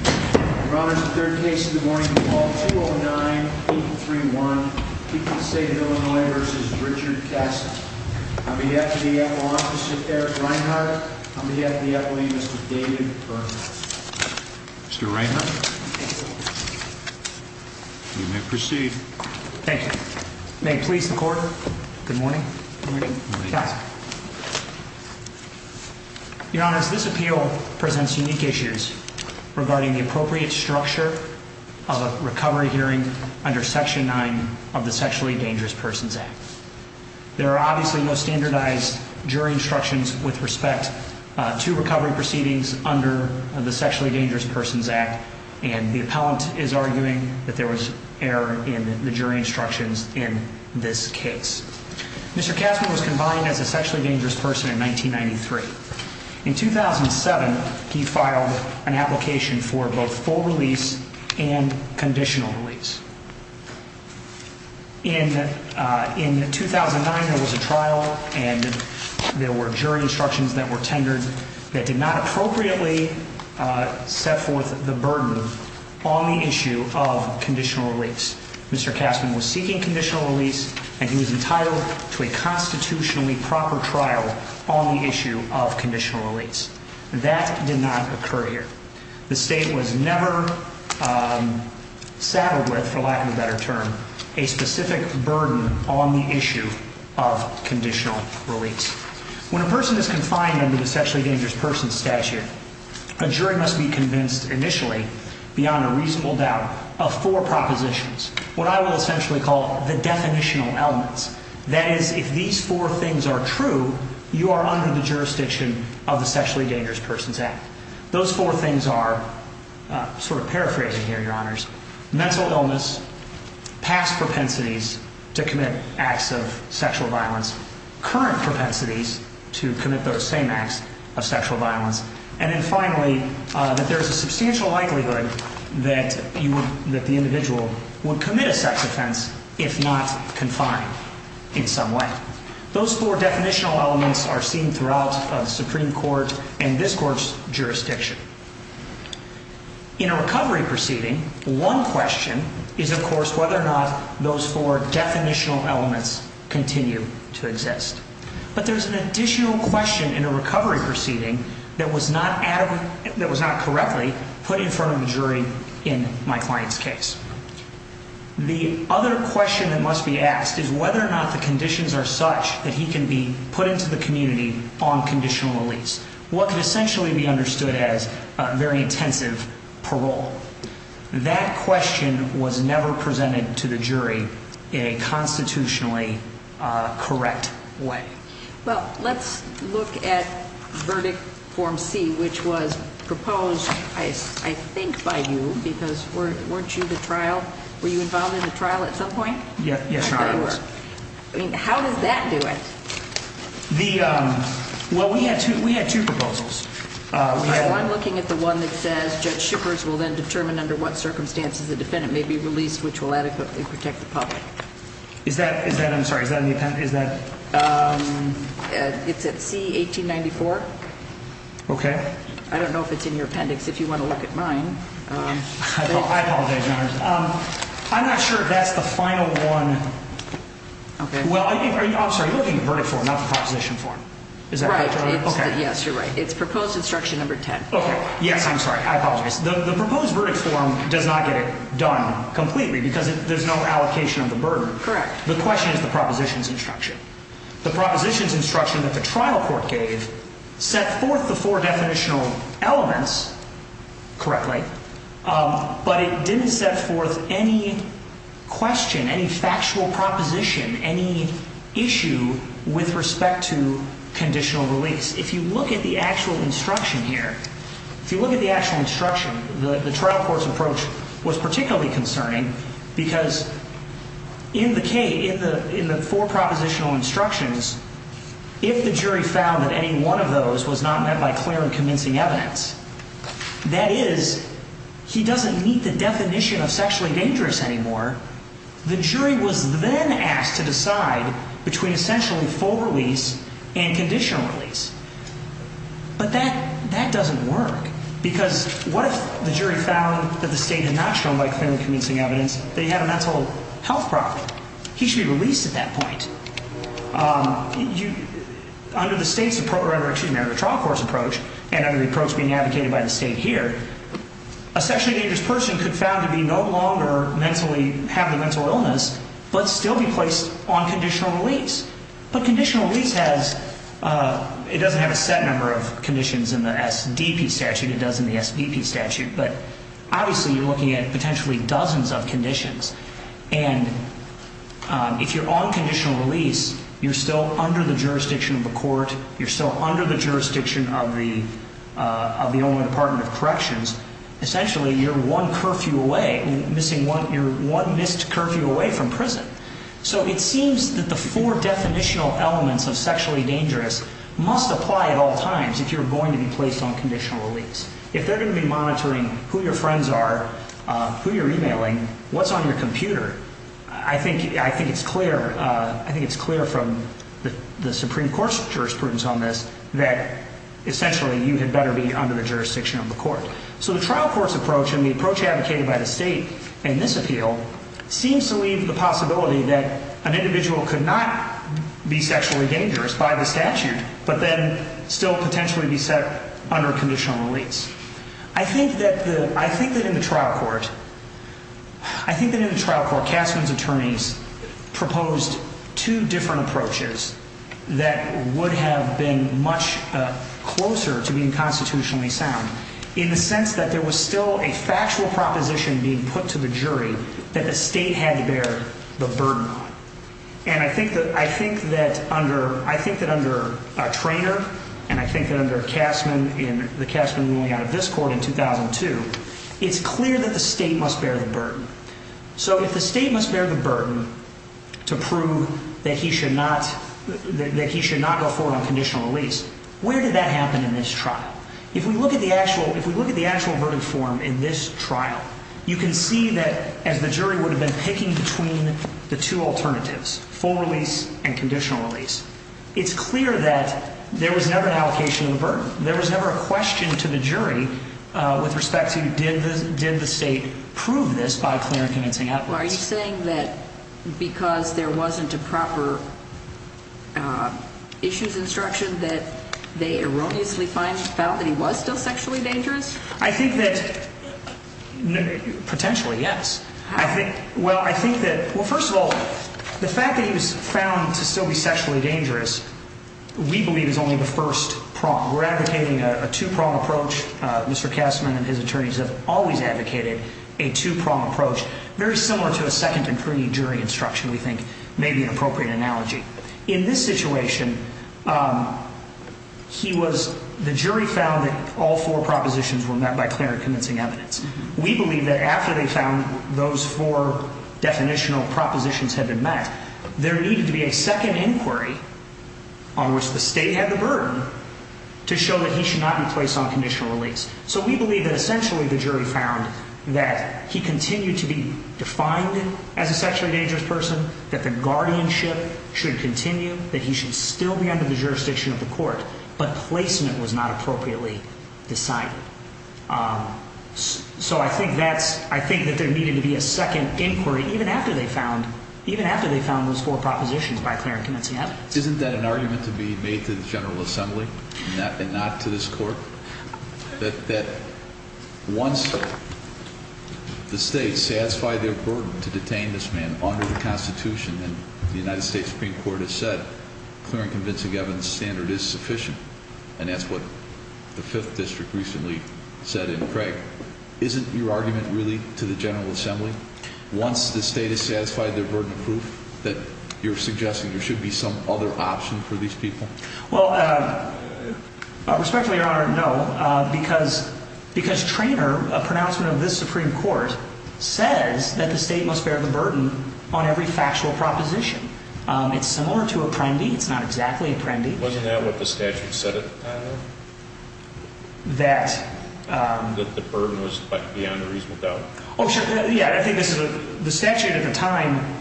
Your Honor, this is the third case in the morning of the fall, 209-831. The people of the state of Illinois v. Richard Kastman. On behalf of the Epoch Office of Eric Reinhardt, on behalf of the Epoch, Mr. David Berman. Mr. Reinhardt, you may proceed. Thank you. May it please the Court, good morning. Good morning. Kastman. Your Honor, this appeal presents unique issues regarding the appropriate structure of a recovery hearing under Section 9 of the Sexually Dangerous Persons Act. There are obviously no standardized jury instructions with respect to recovery proceedings under the Sexually Dangerous Persons Act, and the appellant is arguing that there was error in the jury instructions in this case. Mr. Kastman was confined as a sexually dangerous person in 1993. In 2007, he filed an application for both full release and conditional release. In 2009, there was a trial and there were jury instructions that were tendered that did not appropriately set forth the burden on the issue of conditional release. Mr. Kastman was seeking conditional release, and he was entitled to a constitutionally proper trial on the issue of conditional release. That did not occur here. The State was never saddled with, for lack of a better term, a specific burden on the issue of conditional release. When a person is confined under the Sexually Dangerous Persons Statute, a jury must be convinced initially beyond a reasonable doubt of four propositions, what I will essentially call the definitional elements. That is, if these four things are true, you are under the jurisdiction of the Sexually Dangerous Persons Act. Those four things are, sort of paraphrasing here, Your Honors, mental illness, past propensities to commit acts of sexual violence, current propensities to commit those same acts of sexual violence, and then finally, that there is a substantial likelihood that the individual would commit a sex offense if not confined in some way. Those four definitional elements are seen throughout the Supreme Court and this Court's jurisdiction. Those four definitional elements continue to exist. But there's an additional question in a recovery proceeding that was not correctly put in front of the jury in my client's case. The other question that must be asked is whether or not the conditions are such that he can be put into the community on conditional release, what could essentially be understood as very intensive parole. That question was never presented to the jury in a constitutionally correct way. Well, let's look at Verdict Form C, which was proposed, I think, by you, because weren't you the trial? Were you involved in the trial at some point? Yes, I was. How does that do it? Well, we had two proposals. I'm looking at the one that says Judge Schippers will then determine under what circumstances the defendant may be released, which will adequately protect the public. Is that in the appendix? It's at C, 1894. Okay. I don't know if it's in your appendix. If you want to look at mine. I apologize, Your Honor. I'm not sure if that's the final one. I'm sorry, you're looking at Verdict Form, not the Proposition Form. Right. Yes, you're right. It's Proposed Instruction Number 10. Yes, I'm sorry. I apologize. The Proposed Verdict Form does not get it done completely because there's no allocation of the burden. Correct. The question is the Proposition's Instruction. The Proposition's Instruction that the trial court gave set forth the four definitional elements correctly, but it didn't set forth any question, any factual proposition, any issue with respect to conditional release. If you look at the actual instruction here, if you look at the actual instruction, the trial court's approach was particularly concerning because in the four propositional instructions, if the jury found that any one of those was not met by clear and convincing evidence, that is, he doesn't meet the definition of sexually dangerous anymore, the jury was then asked to decide between essentially full release and conditional release. But that doesn't work because what if the jury found that the state had not shown by clear and convincing evidence that he had a mental health problem? He should be released at that point. Under the state's approach, or excuse me, under the trial court's approach, and under the approach being advocated by the state here, a sexually dangerous person could found to be no longer mentally, have a mental illness, but still be placed on conditional release. But conditional release has, it doesn't have a set number of conditions in the SDP statute, it does in the SDP statute, but obviously you're looking at potentially dozens of conditions. And if you're on conditional release, you're still under the jurisdiction of the court, you're still under the jurisdiction of the only department of corrections, essentially you're one curfew away, you're one missed curfew away from prison. So it seems that the four definitional elements of sexually dangerous must apply at all times if you're going to be placed on conditional release. If they're going to be monitoring who your friends are, who you're emailing, what's on your computer, I think it's clear from the Supreme Court's jurisprudence on this that essentially you had better be under the jurisdiction of the court. So the trial court's approach and the approach advocated by the state in this appeal seems to leave the possibility that an individual could not be sexually dangerous by the statute, but then still potentially be set under conditional release. I think that in the trial court, I think that in the trial court, Castman's attorneys proposed two different approaches that would have been much closer to being constitutionally sound in the sense that there was still a factual proposition being put to the jury that the state had to bear the burden on. And I think that under Traynor and I think that under the Castman ruling out of this court in 2002, it's clear that the state must bear the burden. So if the state must bear the burden to prove that he should not go forward on conditional release, where did that happen in this trial? If we look at the actual verdict form in this trial, you can see that as the jury would have been picking between the two alternatives, full release and conditional release. It's clear that there was never an allocation of the burden. There was never a question to the jury with respect to did the state prove this by clear and convincing evidence. Are you saying that because there wasn't a proper issues instruction that they erroneously found that he was still sexually dangerous? I think that potentially, yes. Well, first of all, the fact that he was found to still be sexually dangerous, we believe is only the first prong. We're advocating a two-prong approach. Mr. Castman and his attorneys have always advocated a two-prong approach, very similar to a second and pre-jury instruction we think may be an appropriate analogy. In this situation, the jury found that all four propositions were met by clear and convincing evidence. We believe that after they found those four definitional propositions had been met, there needed to be a second inquiry on which the state had the burden to show that he should not be placed on conditional release. So we believe that essentially the jury found that he continued to be defined as a sexually dangerous person, that the guardianship should continue, that he should still be under the jurisdiction of the court, but placement was not appropriately decided. So I think that there needed to be a second inquiry even after they found those four propositions by clear and convincing evidence. Isn't that an argument to be made to the General Assembly and not to this Court? That once the state satisfied their burden to detain this man under the Constitution, and the United States Supreme Court has said clear and convincing evidence standard is sufficient, and that's what the Fifth District recently said in Craig, isn't your argument really to the General Assembly once the state has satisfied their burden of proof that you're suggesting there should be some other option for these people? Well, respectfully, Your Honor, no. Because Treanor, a pronouncement of this Supreme Court, says that the state must bear the burden on every factual proposition. It's similar to a prime deed. It's not exactly a prime deed. Wasn't that what the statute said at the time, though? That? That the burden was beyond a reasonable doubt. Oh, sure. Yeah, I think the statute at the time...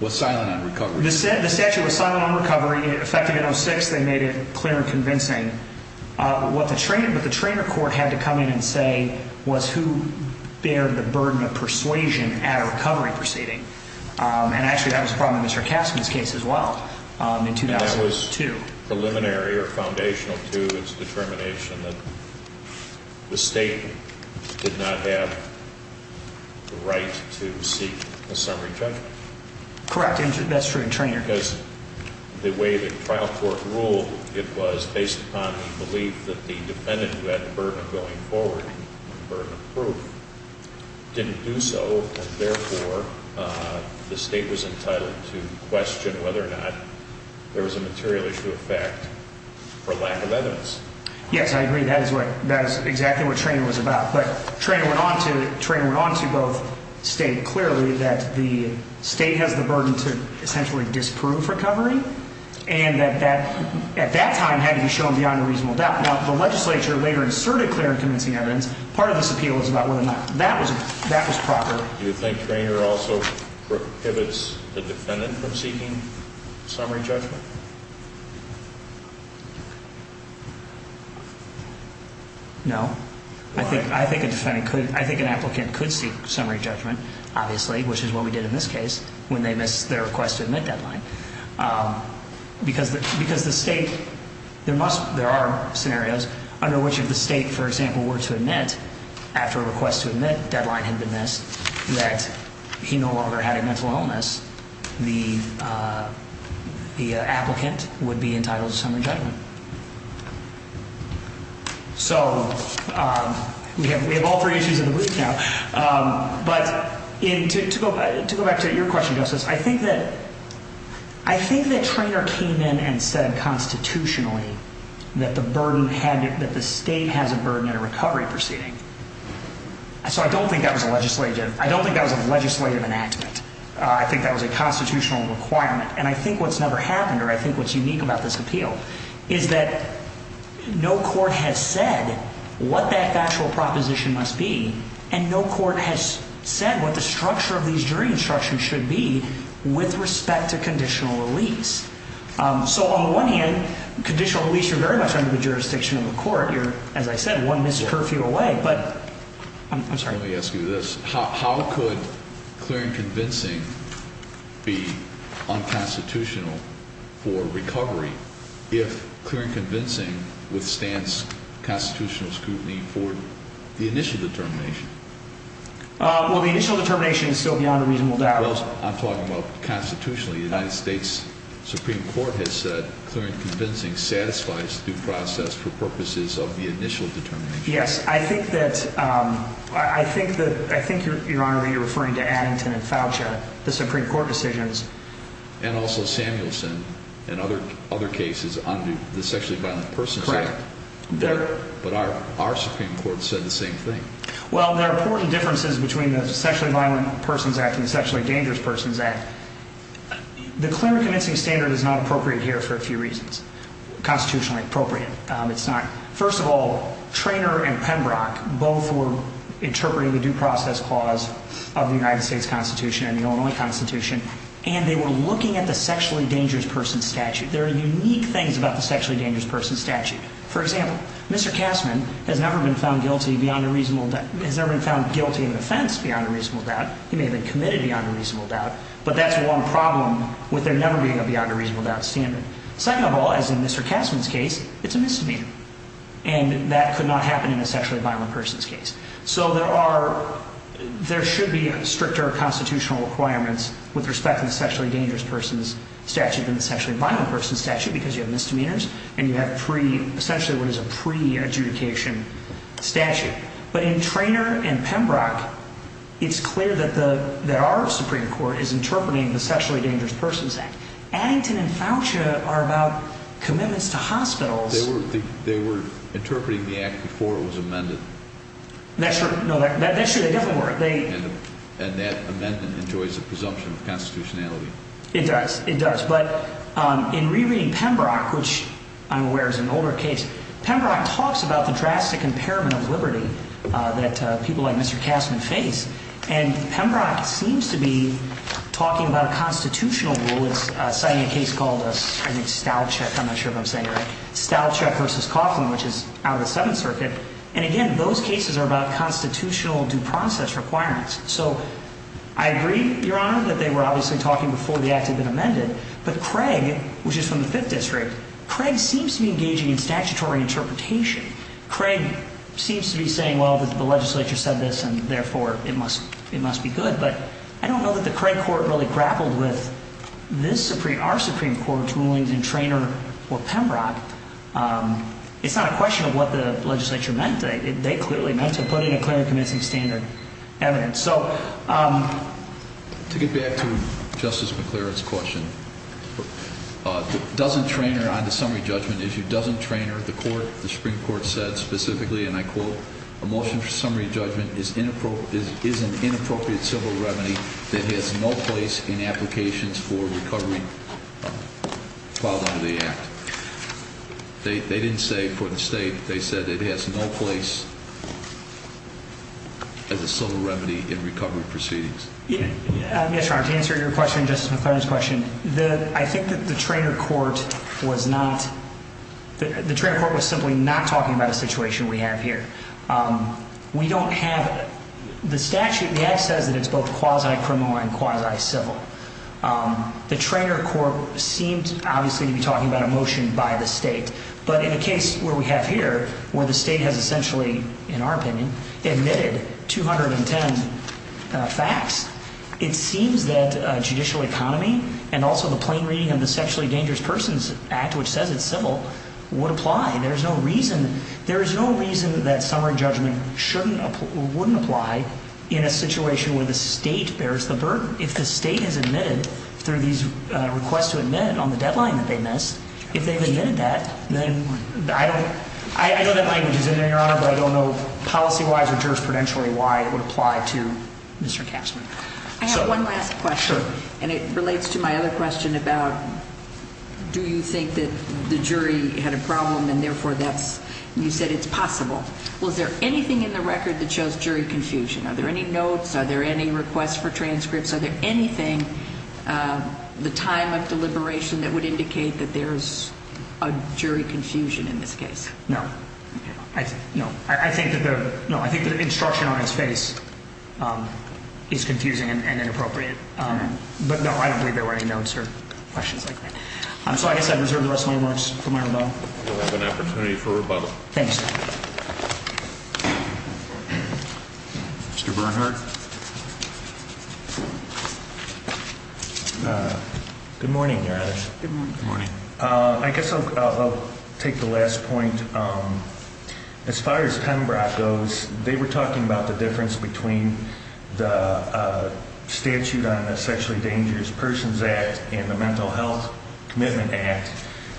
Was silent on recovery. The statute was silent on recovery. Effective in 06, they made it clear and convincing. But the Treanor Court had to come in and say, was who bared the burden of persuasion at a recovery proceeding? And actually that was a problem in Mr. Kaskin's case as well in 2002. And that was preliminary or foundational to its determination that the state did not have the right to seek a summary judgment? Correct. That's true in Treanor. Because the way the trial court ruled, it was based upon the belief that the defendant who had the burden of going forward, the burden of proof, didn't do so. And therefore, the state was entitled to question whether or not there was a material issue of fact for lack of evidence. Yes, I agree. That is exactly what Treanor was about. But Treanor went on to both state clearly that the state has the burden to essentially disprove recovery, and that at that time had to be shown beyond a reasonable doubt. Now, the legislature later inserted clear and convincing evidence. Part of this appeal was about whether or not that was proper. Do you think Treanor also prohibits the defendant from seeking summary judgment? No. I think an applicant could seek summary judgment, obviously, which is what we did in this case when they missed their request to admit deadline. Because the state, there are scenarios under which if the state, for example, were to admit after a request to admit deadline had been missed that he no longer had a mental illness, the applicant would be entitled to summary judgment. So we have all three issues in the booth now. But to go back to your question, Justice, I think that Treanor came in and said constitutionally that the burden had, that the state has a burden in a recovery proceeding. So I don't think that was a legislative enactment. I think that was a constitutional requirement. And I think what's never happened, or I think what's unique about this appeal, is that no court has said what that actual proposition must be, and no court has said what the structure of these jury instructions should be with respect to conditional release. So on the one hand, conditional release, you're very much under the jurisdiction of the court. You're, as I said, one missed curfew away. But I'm sorry. Let me ask you this. How could clear and convincing be unconstitutional for recovery if clear and convincing withstands constitutional scrutiny for the initial determination? Well, the initial determination is still beyond a reasonable doubt. Well, I'm talking about constitutionally. The United States Supreme Court has said clear and convincing satisfies due process for purposes of the initial determination. Yes. I think, Your Honor, that you're referring to Addington and Foucha, the Supreme Court decisions. And also Samuelson and other cases under the Sexually Violent Persons Act. Correct. But our Supreme Court said the same thing. Well, there are important differences between the Sexually Violent Persons Act and the Sexually Dangerous Persons Act. The clear and convincing standard is not appropriate here for a few reasons. Constitutionally appropriate, it's not. First of all, Treanor and Pembroke both were interpreting the due process clause of the United States Constitution and the Illinois Constitution, and they were looking at the Sexually Dangerous Persons Statute. There are unique things about the Sexually Dangerous Persons Statute. For example, Mr. Kassman has never been found guilty of an offense beyond a reasonable doubt. He may have been committed beyond a reasonable doubt. But that's one problem with there never being a beyond a reasonable doubt standard. Second of all, as in Mr. Kassman's case, it's a misdemeanor, and that could not happen in a sexually violent person's case. So there should be stricter constitutional requirements with respect to the Sexually Dangerous Persons Statute than the Sexually Violent Persons Statute because you have misdemeanors and you have essentially what is a pre-adjudication statute. But in Treanor and Pembroke, it's clear that our Supreme Court is interpreting the Sexually Dangerous Persons Act. Addington and Foucher are about commitments to hospitals. They were interpreting the act before it was amended. That's true. No, that's true. They definitely were. And that amendment enjoys a presumption of constitutionality. It does. It does. But in rereading Pembroke, which I'm aware is an older case, Pembroke talks about the drastic impairment of liberty that people like Mr. Kassman face, and Pembroke seems to be talking about a constitutional rule. It's citing a case called, I think, Stalchuk. I'm not sure if I'm saying it right. Stalchuk v. Coughlin, which is out of the Seventh Circuit. And again, those cases are about constitutional due process requirements. So I agree, Your Honor, that they were obviously talking before the act had been amended, but Craig, which is from the Fifth District, Craig seems to be engaging in statutory interpretation. Craig seems to be saying, well, the legislature said this, and therefore it must be good. But I don't know that the Craig court really grappled with our Supreme Court's rulings in Traynor or Pembroke. It's not a question of what the legislature meant. They clearly meant to put in a clear and convincing standard evidence. So to get back to Justice McClure's question, doesn't Traynor, on the summary judgment issue, doesn't Traynor, the Supreme Court said specifically, and I quote, a motion for summary judgment is an inappropriate civil remedy that has no place in applications for recovery filed under the act. They didn't say for the state. They said it has no place as a civil remedy in recovery proceedings. Yes, Your Honor, to answer your question, Justice McClure's question, I think that the Traynor court was simply not talking about a situation we have here. We don't have the statute. The act says that it's both quasi-criminal and quasi-civil. The Traynor court seemed, obviously, to be talking about a motion by the state. But in a case where we have here, where the state has essentially, in our opinion, admitted 210 facts, it seems that judicial economy and also the plain reading of the Sexually Dangerous Persons Act, which says it's civil, would apply. There is no reason that summary judgment shouldn't or wouldn't apply in a situation where the state bears the burden. If the state has admitted through these requests to admit on the deadline that they missed, if they've admitted that, then I don't know. I know that language is in there, Your Honor, but I don't know policy-wise or jurisprudentially why it would apply to Mr. Casper. I have one last question, and it relates to my other question about do you think that the jury had a problem and, therefore, you said it's possible. Was there anything in the record that shows jury confusion? Are there any notes? Are there any requests for transcripts? Are there anything, the time of deliberation, that would indicate that there is a jury confusion in this case? No. No. I think that the instruction on his face is confusing and inappropriate. But, no, I don't believe there were any notes or questions like that. So I guess I reserve the rest of my remarks for my rebuttal. You'll have an opportunity for rebuttal. Thanks. Mr. Bernhardt. Good morning, Your Honor. Good morning. I guess I'll take the last point. As far as Penbrock goes, they were talking about the difference between the statute on the Sexually Dangerous Persons Act and the Mental Health Commitment Act,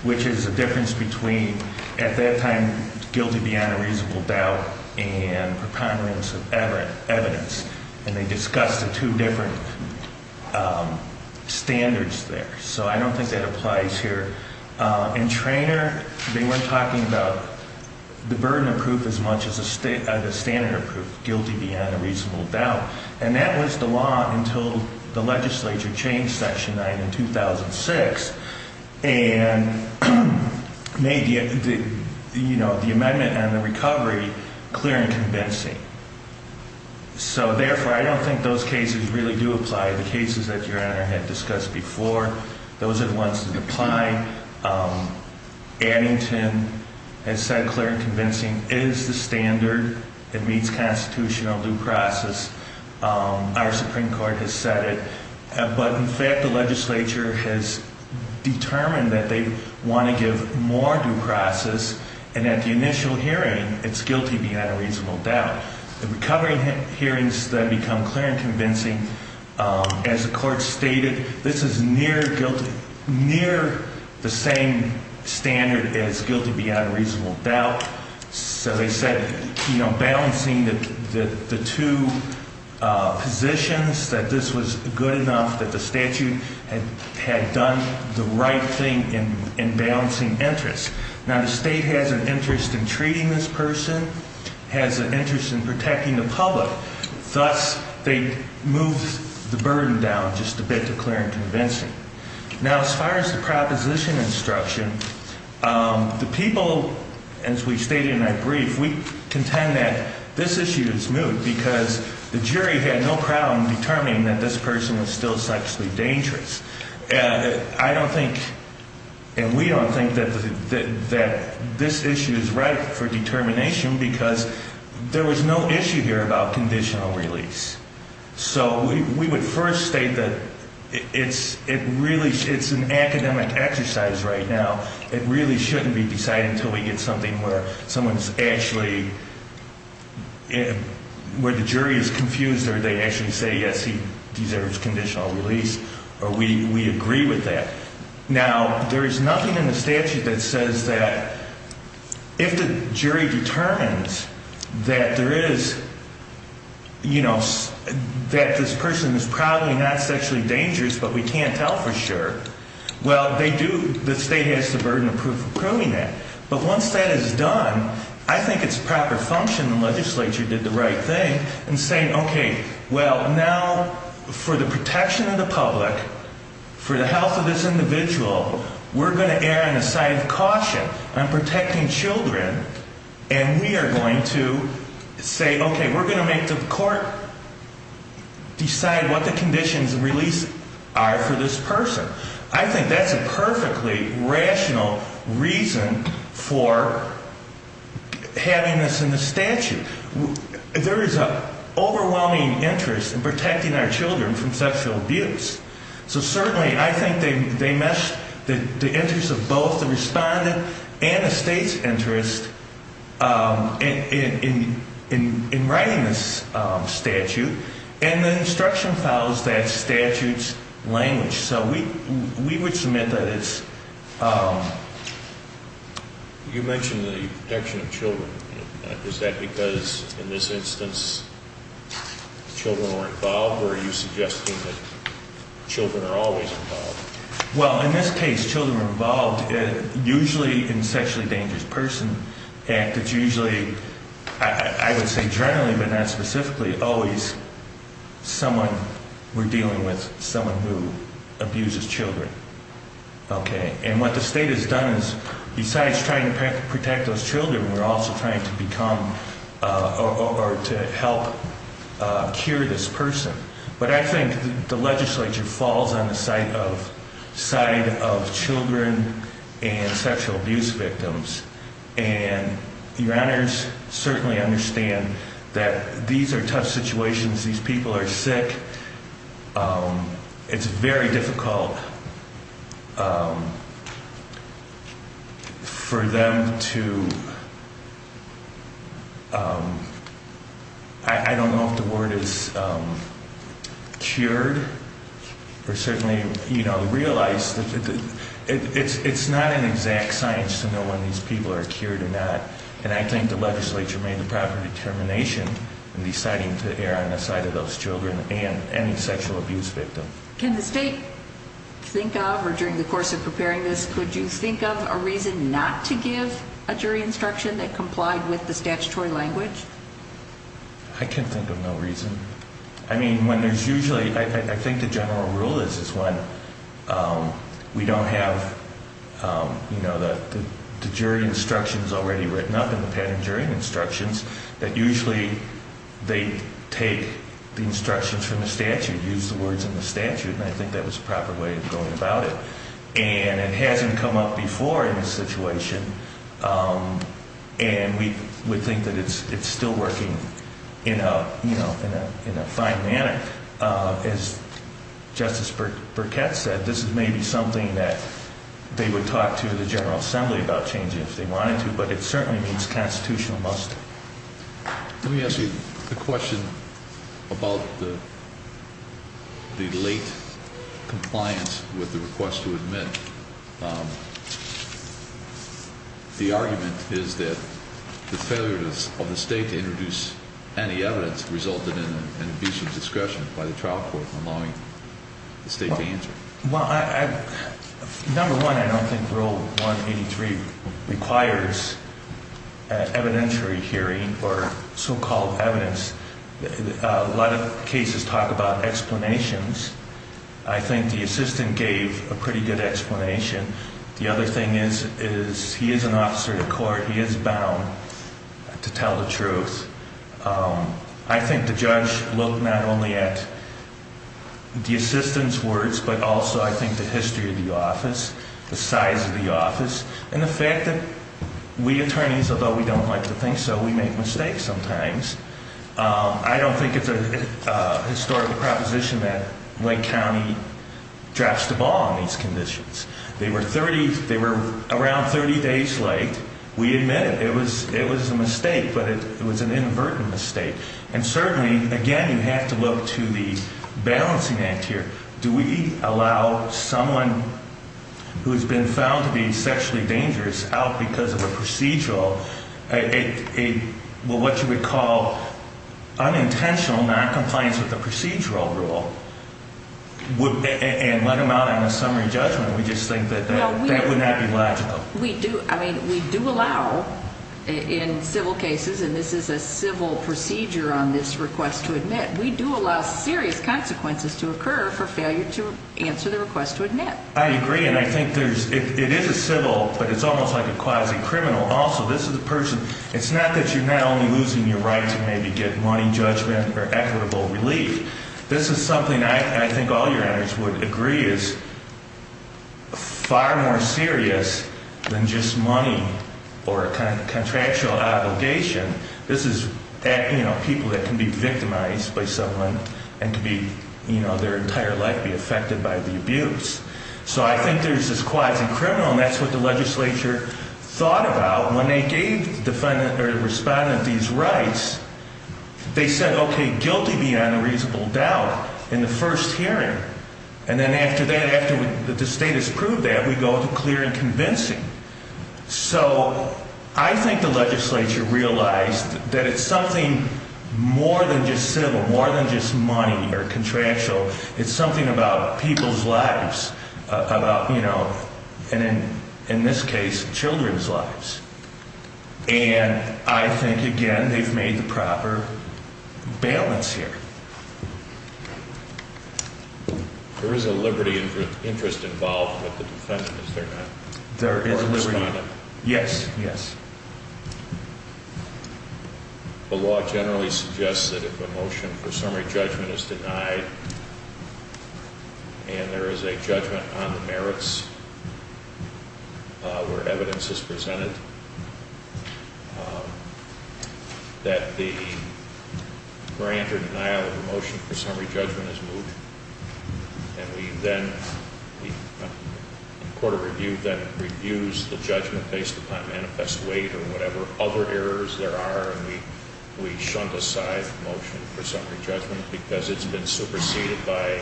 which is a difference between, at that time, guilty beyond a reasonable doubt and preponderance of evidence. And they discussed the two different standards there. So I don't think that applies here. In Treanor, they weren't talking about the burden of proof as much as the standard of proof, guilty beyond a reasonable doubt. And that was the law until the legislature changed Section 9 in 2006 and made the amendment on the recovery clear and convincing. So, therefore, I don't think those cases really do apply. The cases that Your Honor had discussed before, those are the ones that apply. Addington has said clear and convincing is the standard that meets constitutional due process. Our Supreme Court has said it. But, in fact, the legislature has determined that they want to give more due process. And at the initial hearing, it's guilty beyond a reasonable doubt. The recovery hearings then become clear and convincing. As the Court stated, this is near the same standard as guilty beyond a reasonable doubt. So they said, you know, balancing the two positions, that this was good enough that the statute had done the right thing in balancing interest. Now, the state has an interest in treating this person, has an interest in protecting the public. Thus, they moved the burden down just a bit to clear and convincing. Now, as far as the proposition instruction, the people, as we stated in our brief, we contend that this issue is moot because the jury had no problem determining that this person was still sexually dangerous. I don't think, and we don't think that this issue is right for determination because there was no issue here about conditional release. So we would first state that it's an academic exercise right now. It really shouldn't be decided until we get something where someone's actually, where the jury is confused or they actually say, yes, he deserves conditional release. Or we agree with that. Now, there is nothing in the statute that says that if the jury determines that there is, you know, that this person is probably not sexually dangerous, but we can't tell for sure. Well, they do, the state has the burden of proving that. But once that is done, I think it's proper function the legislature did the right thing in saying, okay, well, now for the protection of the public, for the health of this individual, we're going to err on the side of caution. I'm protecting children. And we are going to say, okay, we're going to make the court decide what the conditions of release are for this person. I think that's a perfectly rational reason for having this in the statute. There is an overwhelming interest in protecting our children from sexual abuse. So certainly I think they mesh the interests of both the respondent and the state's interest in writing this statute. So we would submit that it's... You mentioned the protection of children. Is that because in this instance children were involved? Or are you suggesting that children are always involved? Well, in this case children were involved. Usually in the Sexually Dangerous Persons Act, it's usually, I would say generally but not specifically, always someone we're dealing with, someone who abuses children. Okay. And what the state has done is besides trying to protect those children, we're also trying to become or to help cure this person. But I think the legislature falls on the side of children and sexual abuse victims. And your honors certainly understand that these are tough situations. These people are sick. It's very difficult for them to... I don't know if the word is cured or certainly realized. It's not an exact science to know when these people are cured or not. And I think the legislature made the proper determination in deciding to err on the side of those children and any sexual abuse victim. Can the state think of or during the course of preparing this, could you think of a reason not to give a jury instruction that complied with the statutory language? I can think of no reason. I mean, when there's usually, I think the general rule is when we don't have, you know, the jury instructions already written up in the patent jury instructions, that usually they take the instructions from the statute, use the words in the statute. And I think that was a proper way of going about it. And it hasn't come up before in this situation. And we think that it's still working in a fine manner. As Justice Burkett said, this is maybe something that they would talk to the General Assembly about changing if they wanted to. But it certainly means constitutional muster. Let me ask you a question about the late compliance with the request to admit. The argument is that the failure of the state to introduce any evidence resulted in an abuse of discretion by the trial court allowing the state to answer. Well, number one, I don't think Rule 183 requires evidentiary hearing or so-called evidence. A lot of cases talk about explanations. I think the assistant gave a pretty good explanation. The other thing is he is an officer to court. He is bound to tell the truth. I think the judge looked not only at the assistant's words, but also I think the history of the office, the size of the office, and the fact that we attorneys, although we don't like to think so, we make mistakes sometimes. I don't think it's a historical proposition that Lake County drops the ball on these conditions. They were around 30 days late. We admit it. It was a mistake, but it was an inadvertent mistake. And certainly, again, you have to look to the balancing act here. Do we allow someone who has been found to be sexually dangerous out because of a procedural, what you would call unintentional noncompliance with the procedural rule, and let him out on a summary judgment? We just think that that would not be logical. We do. I mean, we do allow in civil cases, and this is a civil procedure on this request to admit, we do allow serious consequences to occur for failure to answer the request to admit. I agree, and I think it is a civil, but it's almost like a quasi-criminal also. This is a person. It's not that you're not only losing your right to maybe get money, judgment, or equitable relief. This is something I think all your honors would agree is far more serious than just money or a contractual obligation. This is people that can be victimized by someone and their entire life be affected by the abuse. So I think there's this quasi-criminal, and that's what the legislature thought about. When they gave the defendant or respondent these rights, they said, okay, guilty beyond a reasonable doubt in the first hearing, and then after that, after the state has proved that, we go to clear and convincing. So I think the legislature realized that it's something more than just civil, more than just money or contractual. It's something about people's lives, about, you know, and in this case, children's lives. And I think, again, they've made the proper balance here. There is a liberty interest involved with the defendant, is there not? There is a liberty. Or respondent. Yes, yes. The law generally suggests that if a motion for summary judgment is denied and there is a judgment on the merits where evidence is presented, that the grant or denial of the motion for summary judgment is moved, and we then, the court of review then reviews the judgment based upon manifest weight or whatever other errors there are, and we shunt aside the motion for summary judgment because it's been superseded by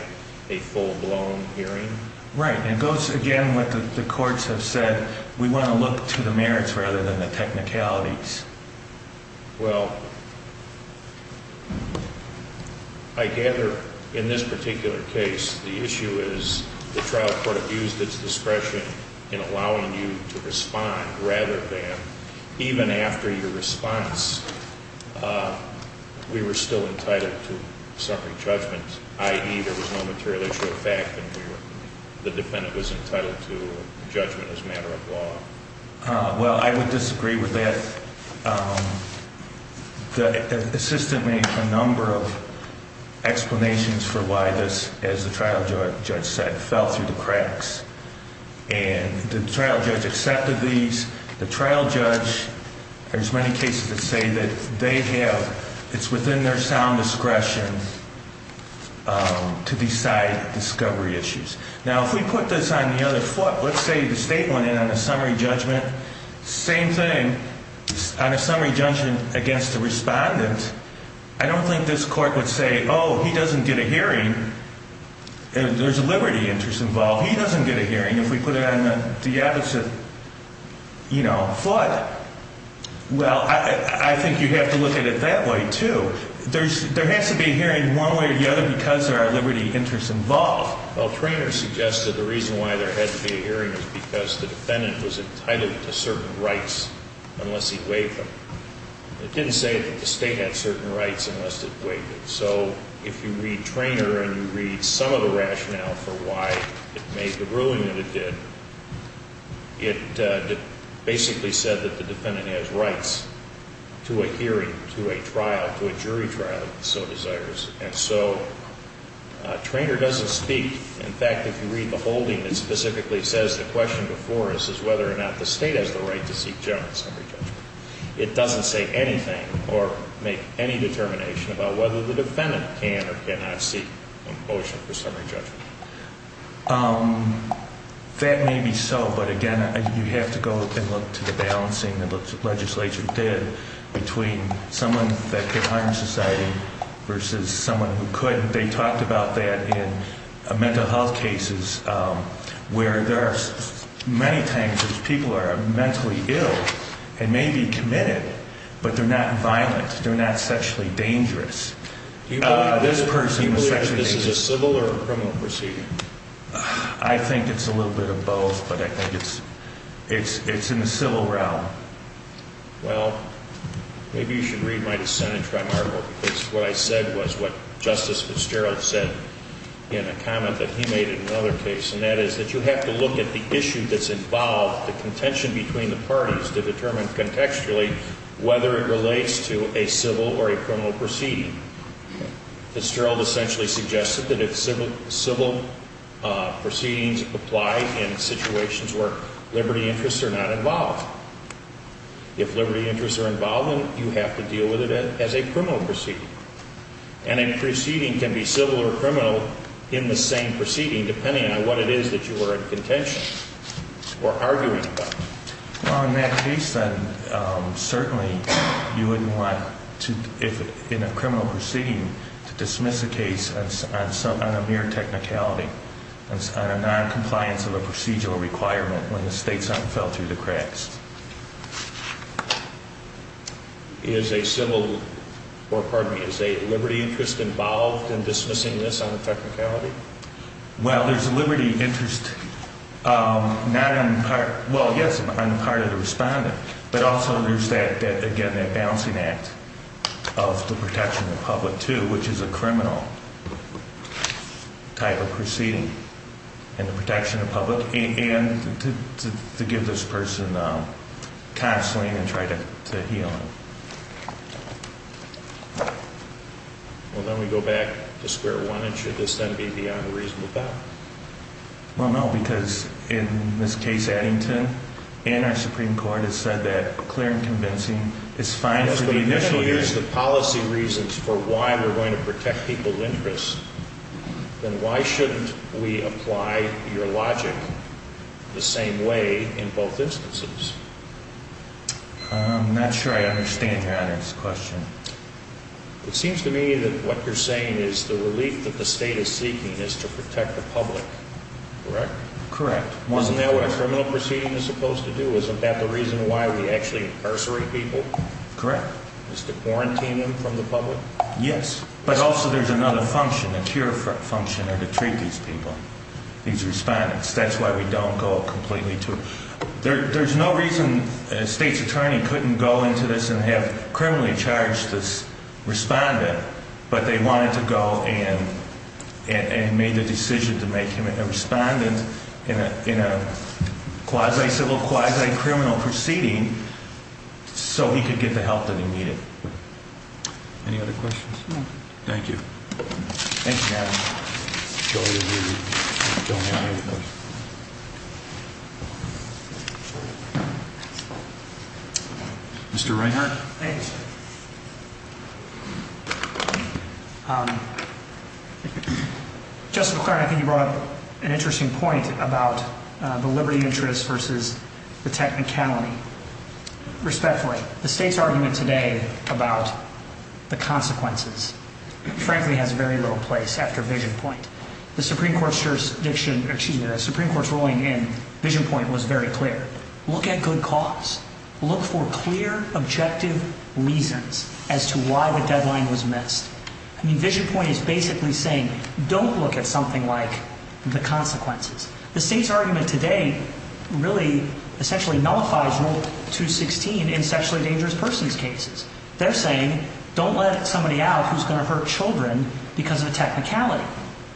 a full-blown hearing. Right, and it goes, again, what the courts have said. We want to look to the merits rather than the technicalities. Well, I gather in this particular case the issue is the trial court abused its discretion in allowing you to respond rather than, even after your response, we were still entitled to summary judgment, i.e. there was no material issue of fact and the defendant was entitled to a judgment as a matter of law. Well, I would disagree with that. The assistant made a number of explanations for why this, as the trial judge said, fell through the cracks. And the trial judge accepted these. The trial judge, there's many cases that say that they have, it's within their sound discretion to decide discovery issues. Now, if we put this on the other foot, let's say the state went in on a summary judgment, same thing, on a summary judgment against the respondent, I don't think this court would say, oh, he doesn't get a hearing. There's a liberty interest involved. He doesn't get a hearing if we put it on the opposite, you know, foot. Well, I think you have to look at it that way, too. There has to be a hearing one way or the other because there are liberty interests involved. Well, Traynor suggested the reason why there had to be a hearing is because the defendant was entitled to certain rights unless he waived them. It didn't say that the state had certain rights unless it waived them. So if you read Traynor and you read some of the rationale for why it made the ruling that it did, it basically said that the defendant has rights to a hearing, to a trial, to a jury trial, so it desires. And so Traynor doesn't speak. In fact, if you read the holding, it specifically says the question before us is whether or not the state has the right to seek general summary judgment. It doesn't say anything or make any determination about whether the defendant can or cannot seek a motion for summary judgment. That may be so, but, again, you have to go and look to the balancing that the legislature did between someone that could harm society versus someone who couldn't. They talked about that in mental health cases where there are many times people are mentally ill and may be committed, but they're not violent, they're not sexually dangerous. Do you believe that this is a civil or a criminal proceeding? I think it's a little bit of both, but I think it's in the civil realm. Well, maybe you should read my dissent in Tri-Marble because what I said was what Justice Fitzgerald said in a comment that he made in another case, and that is that you have to look at the issue that's involved, the contention between the parties, to determine contextually whether it relates to a civil or a criminal proceeding. Fitzgerald essentially suggested that if civil proceedings apply in situations where liberty interests are not involved, if liberty interests are involved, then you have to deal with it as a criminal proceeding. And a proceeding can be civil or criminal in the same proceeding depending on what it is that you are in contention or arguing about. Well, in that case, then, certainly you wouldn't want to, in a criminal proceeding, to dismiss a case on a mere technicality, on a noncompliance of a procedural requirement when the state's unfelt through the cracks. Is a civil or, pardon me, is a liberty interest involved in dismissing this on a technicality? Well, there's a liberty interest not on the part, well, yes, on the part of the respondent, but also there's that, again, that balancing act of the protection of the public, too, which is a criminal type of proceeding, and the protection of the public, and to give this person counseling and try to heal him. Well, then we go back to square one, and should this then be beyond a reasonable doubt? Well, no, because in this case, Addington and our Supreme Court have said that clear and convincing is fine for the initial… If we're going to use the policy reasons for why we're going to protect people's interests, then why shouldn't we apply your logic the same way in both instances? I'm not sure I understand your honest question. It seems to me that what you're saying is the relief that the state is seeking is to protect the public, correct? Correct. Isn't that what a criminal proceeding is supposed to do? Isn't that the reason why we actually incarcerate people? Correct. Is to quarantine them from the public? Yes, but also there's another function, a cure function, to treat these people, these respondents. That's why we don't go completely to… There's no reason a state's attorney couldn't go into this and have criminally charged this respondent, but they wanted to go and made the decision to make him a respondent in a quasi-civil, quasi-criminal proceeding so he could get the help that he needed. Any other questions? Thank you. Thank you, ma'am. Joe, you're here. Mr. Reinhart. Thanks. Justice McClaren, I think you brought up an interesting point about the liberty interest versus the technicality. Respectfully, the state's argument today about the consequences, frankly, has very little place after Vision Point. The Supreme Court's ruling in Vision Point was very clear. Look at good cause. Look for clear, objective reasons as to why the deadline was missed. Vision Point is basically saying don't look at something like the consequences. The state's argument today really essentially nullifies Rule 216 in sexually dangerous persons' cases. They're saying don't let somebody out who's going to hurt children because of a technicality.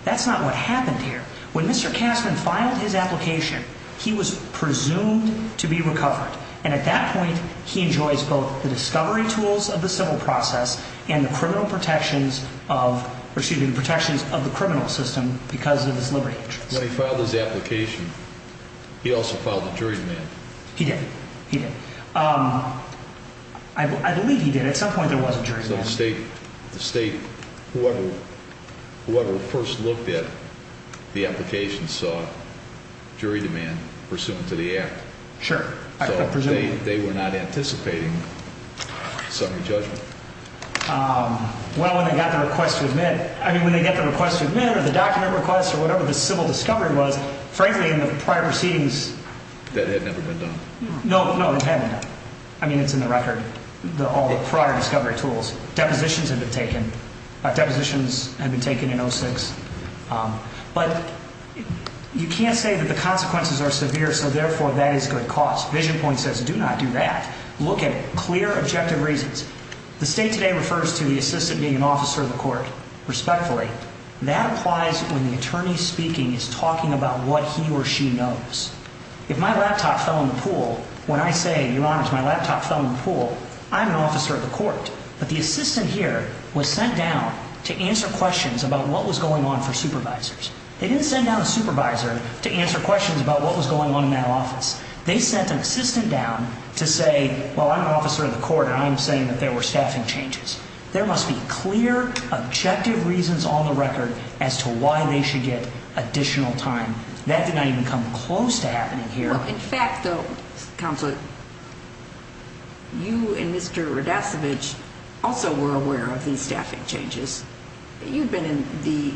That's not what happened here. When Mr. Kastner filed his application, he was presumed to be recovered, and at that point he enjoys both the discovery tools of the civil process and the criminal protections of the criminal system because of his liberty interest. When he filed his application, he also filed a jury demand. He did. He did. I believe he did. At some point there was a jury demand. The state, whoever first looked at the application, saw jury demand pursuant to the act. Sure. So they were not anticipating summary judgment. Well, when they got the request to admit, I mean, when they got the request to admit or the document request or whatever the civil discovery was, frankly, in the prior proceedings. That had never been done. No, no, it hadn't. I mean, it's in the record, all the prior discovery tools. Depositions had been taken. Depositions had been taken in 06. But you can't say that the consequences are severe, so therefore that is good cause. Vision Point says do not do that. Look at it. Clear, objective reasons. The state today refers to the assistant being an officer of the court, respectfully. That applies when the attorney speaking is talking about what he or she knows. If my laptop fell in the pool, when I say, Your Honors, my laptop fell in the pool, I'm an officer of the court. But the assistant here was sent down to answer questions about what was going on for supervisors. They didn't send down a supervisor to answer questions about what was going on in that office. They sent an assistant down to say, well, I'm an officer of the court and I'm saying that there were staffing changes. There must be clear, objective reasons on the record as to why they should get additional time. That did not even come close to happening here. In fact, though, Counselor, you and Mr. Radasevich also were aware of these staffing changes. You've been in the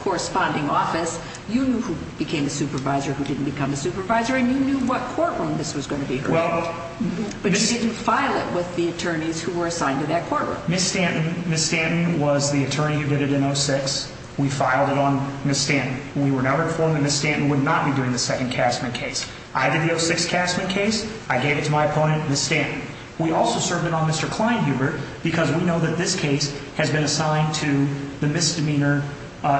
corresponding office. You knew who became a supervisor, who didn't become a supervisor, and you knew what courtroom this was going to be. But you didn't file it with the attorneys who were assigned to that courtroom. Ms. Stanton was the attorney who did it in 06. We filed it on Ms. Stanton. We were now informed that Ms. Stanton would not be doing the second Castman case. I did the 06 Castman case. I gave it to my opponent, Ms. Stanton. We also served it on Mr. Kleinhuber because we know that this case has been assigned to the misdemeanor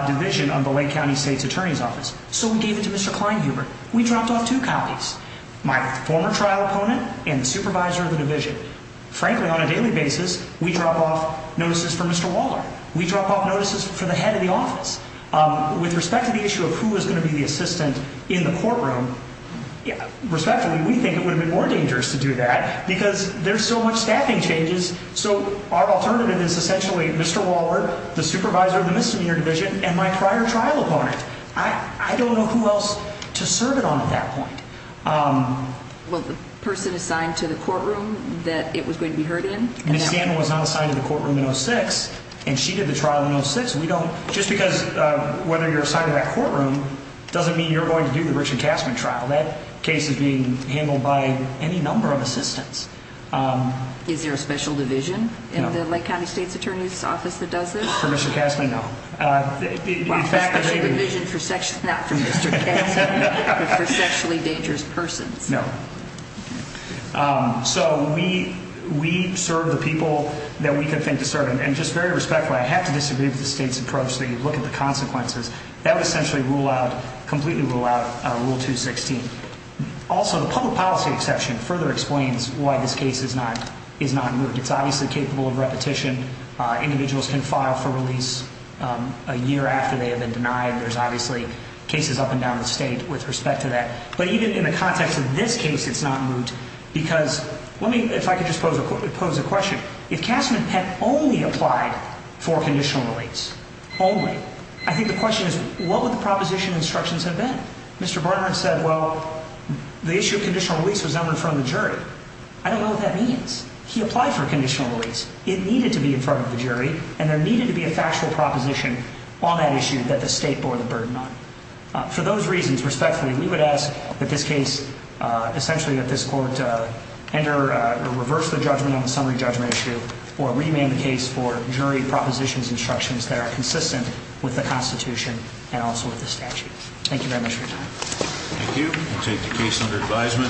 division of the Lake County State's Attorney's Office. So we gave it to Mr. Kleinhuber. We dropped off two counties. My former trial opponent and supervisor of the division. Frankly, on a daily basis, we drop off notices for Mr. Waller. We drop off notices for the head of the office. With respect to the issue of who is going to be the assistant in the courtroom, respectfully, we think it would have been more dangerous to do that because there's so much staffing changes. So our alternative is essentially Mr. Waller, the supervisor of the misdemeanor division, and my prior trial opponent. I don't know who else to serve it on at that point. Well, the person assigned to the courtroom that it was going to be heard in? Ms. Stanton was not assigned to the courtroom in 06, and she did the trial in 06. Just because whether you're assigned to that courtroom doesn't mean you're going to do the Richard Castman trial. That case is being handled by any number of assistants. Is there a special division in the Lake County State's Attorney's Office that does this? For Mr. Castman? No. A special division for sexually dangerous persons? No. So we serve the people that we can think to serve. And just very respectfully, I have to disagree with the State's approach that you look at the consequences. That would essentially completely rule out Rule 216. Also, the public policy exception further explains why this case is not moved. It's obviously capable of repetition. Individuals can file for release a year after they have been denied. There's obviously cases up and down the state with respect to that. But even in the context of this case, it's not moved. Because let me, if I could just pose a question. If Castman had only applied for conditional release, only, I think the question is, what would the proposition instructions have been? Mr. Barnard said, well, the issue of conditional release was never in front of the jury. I don't know what that means. He applied for conditional release. It needed to be in front of the jury, and there needed to be a factual proposition on that issue that the state bore the burden on. For those reasons, respectfully, we would ask that this case, essentially that this court enter or reverse the judgment on the summary judgment issue or rename the case for jury propositions instructions that are consistent with the Constitution and also with the statute. Thank you very much for your time. Thank you. We'll take the case under advisement.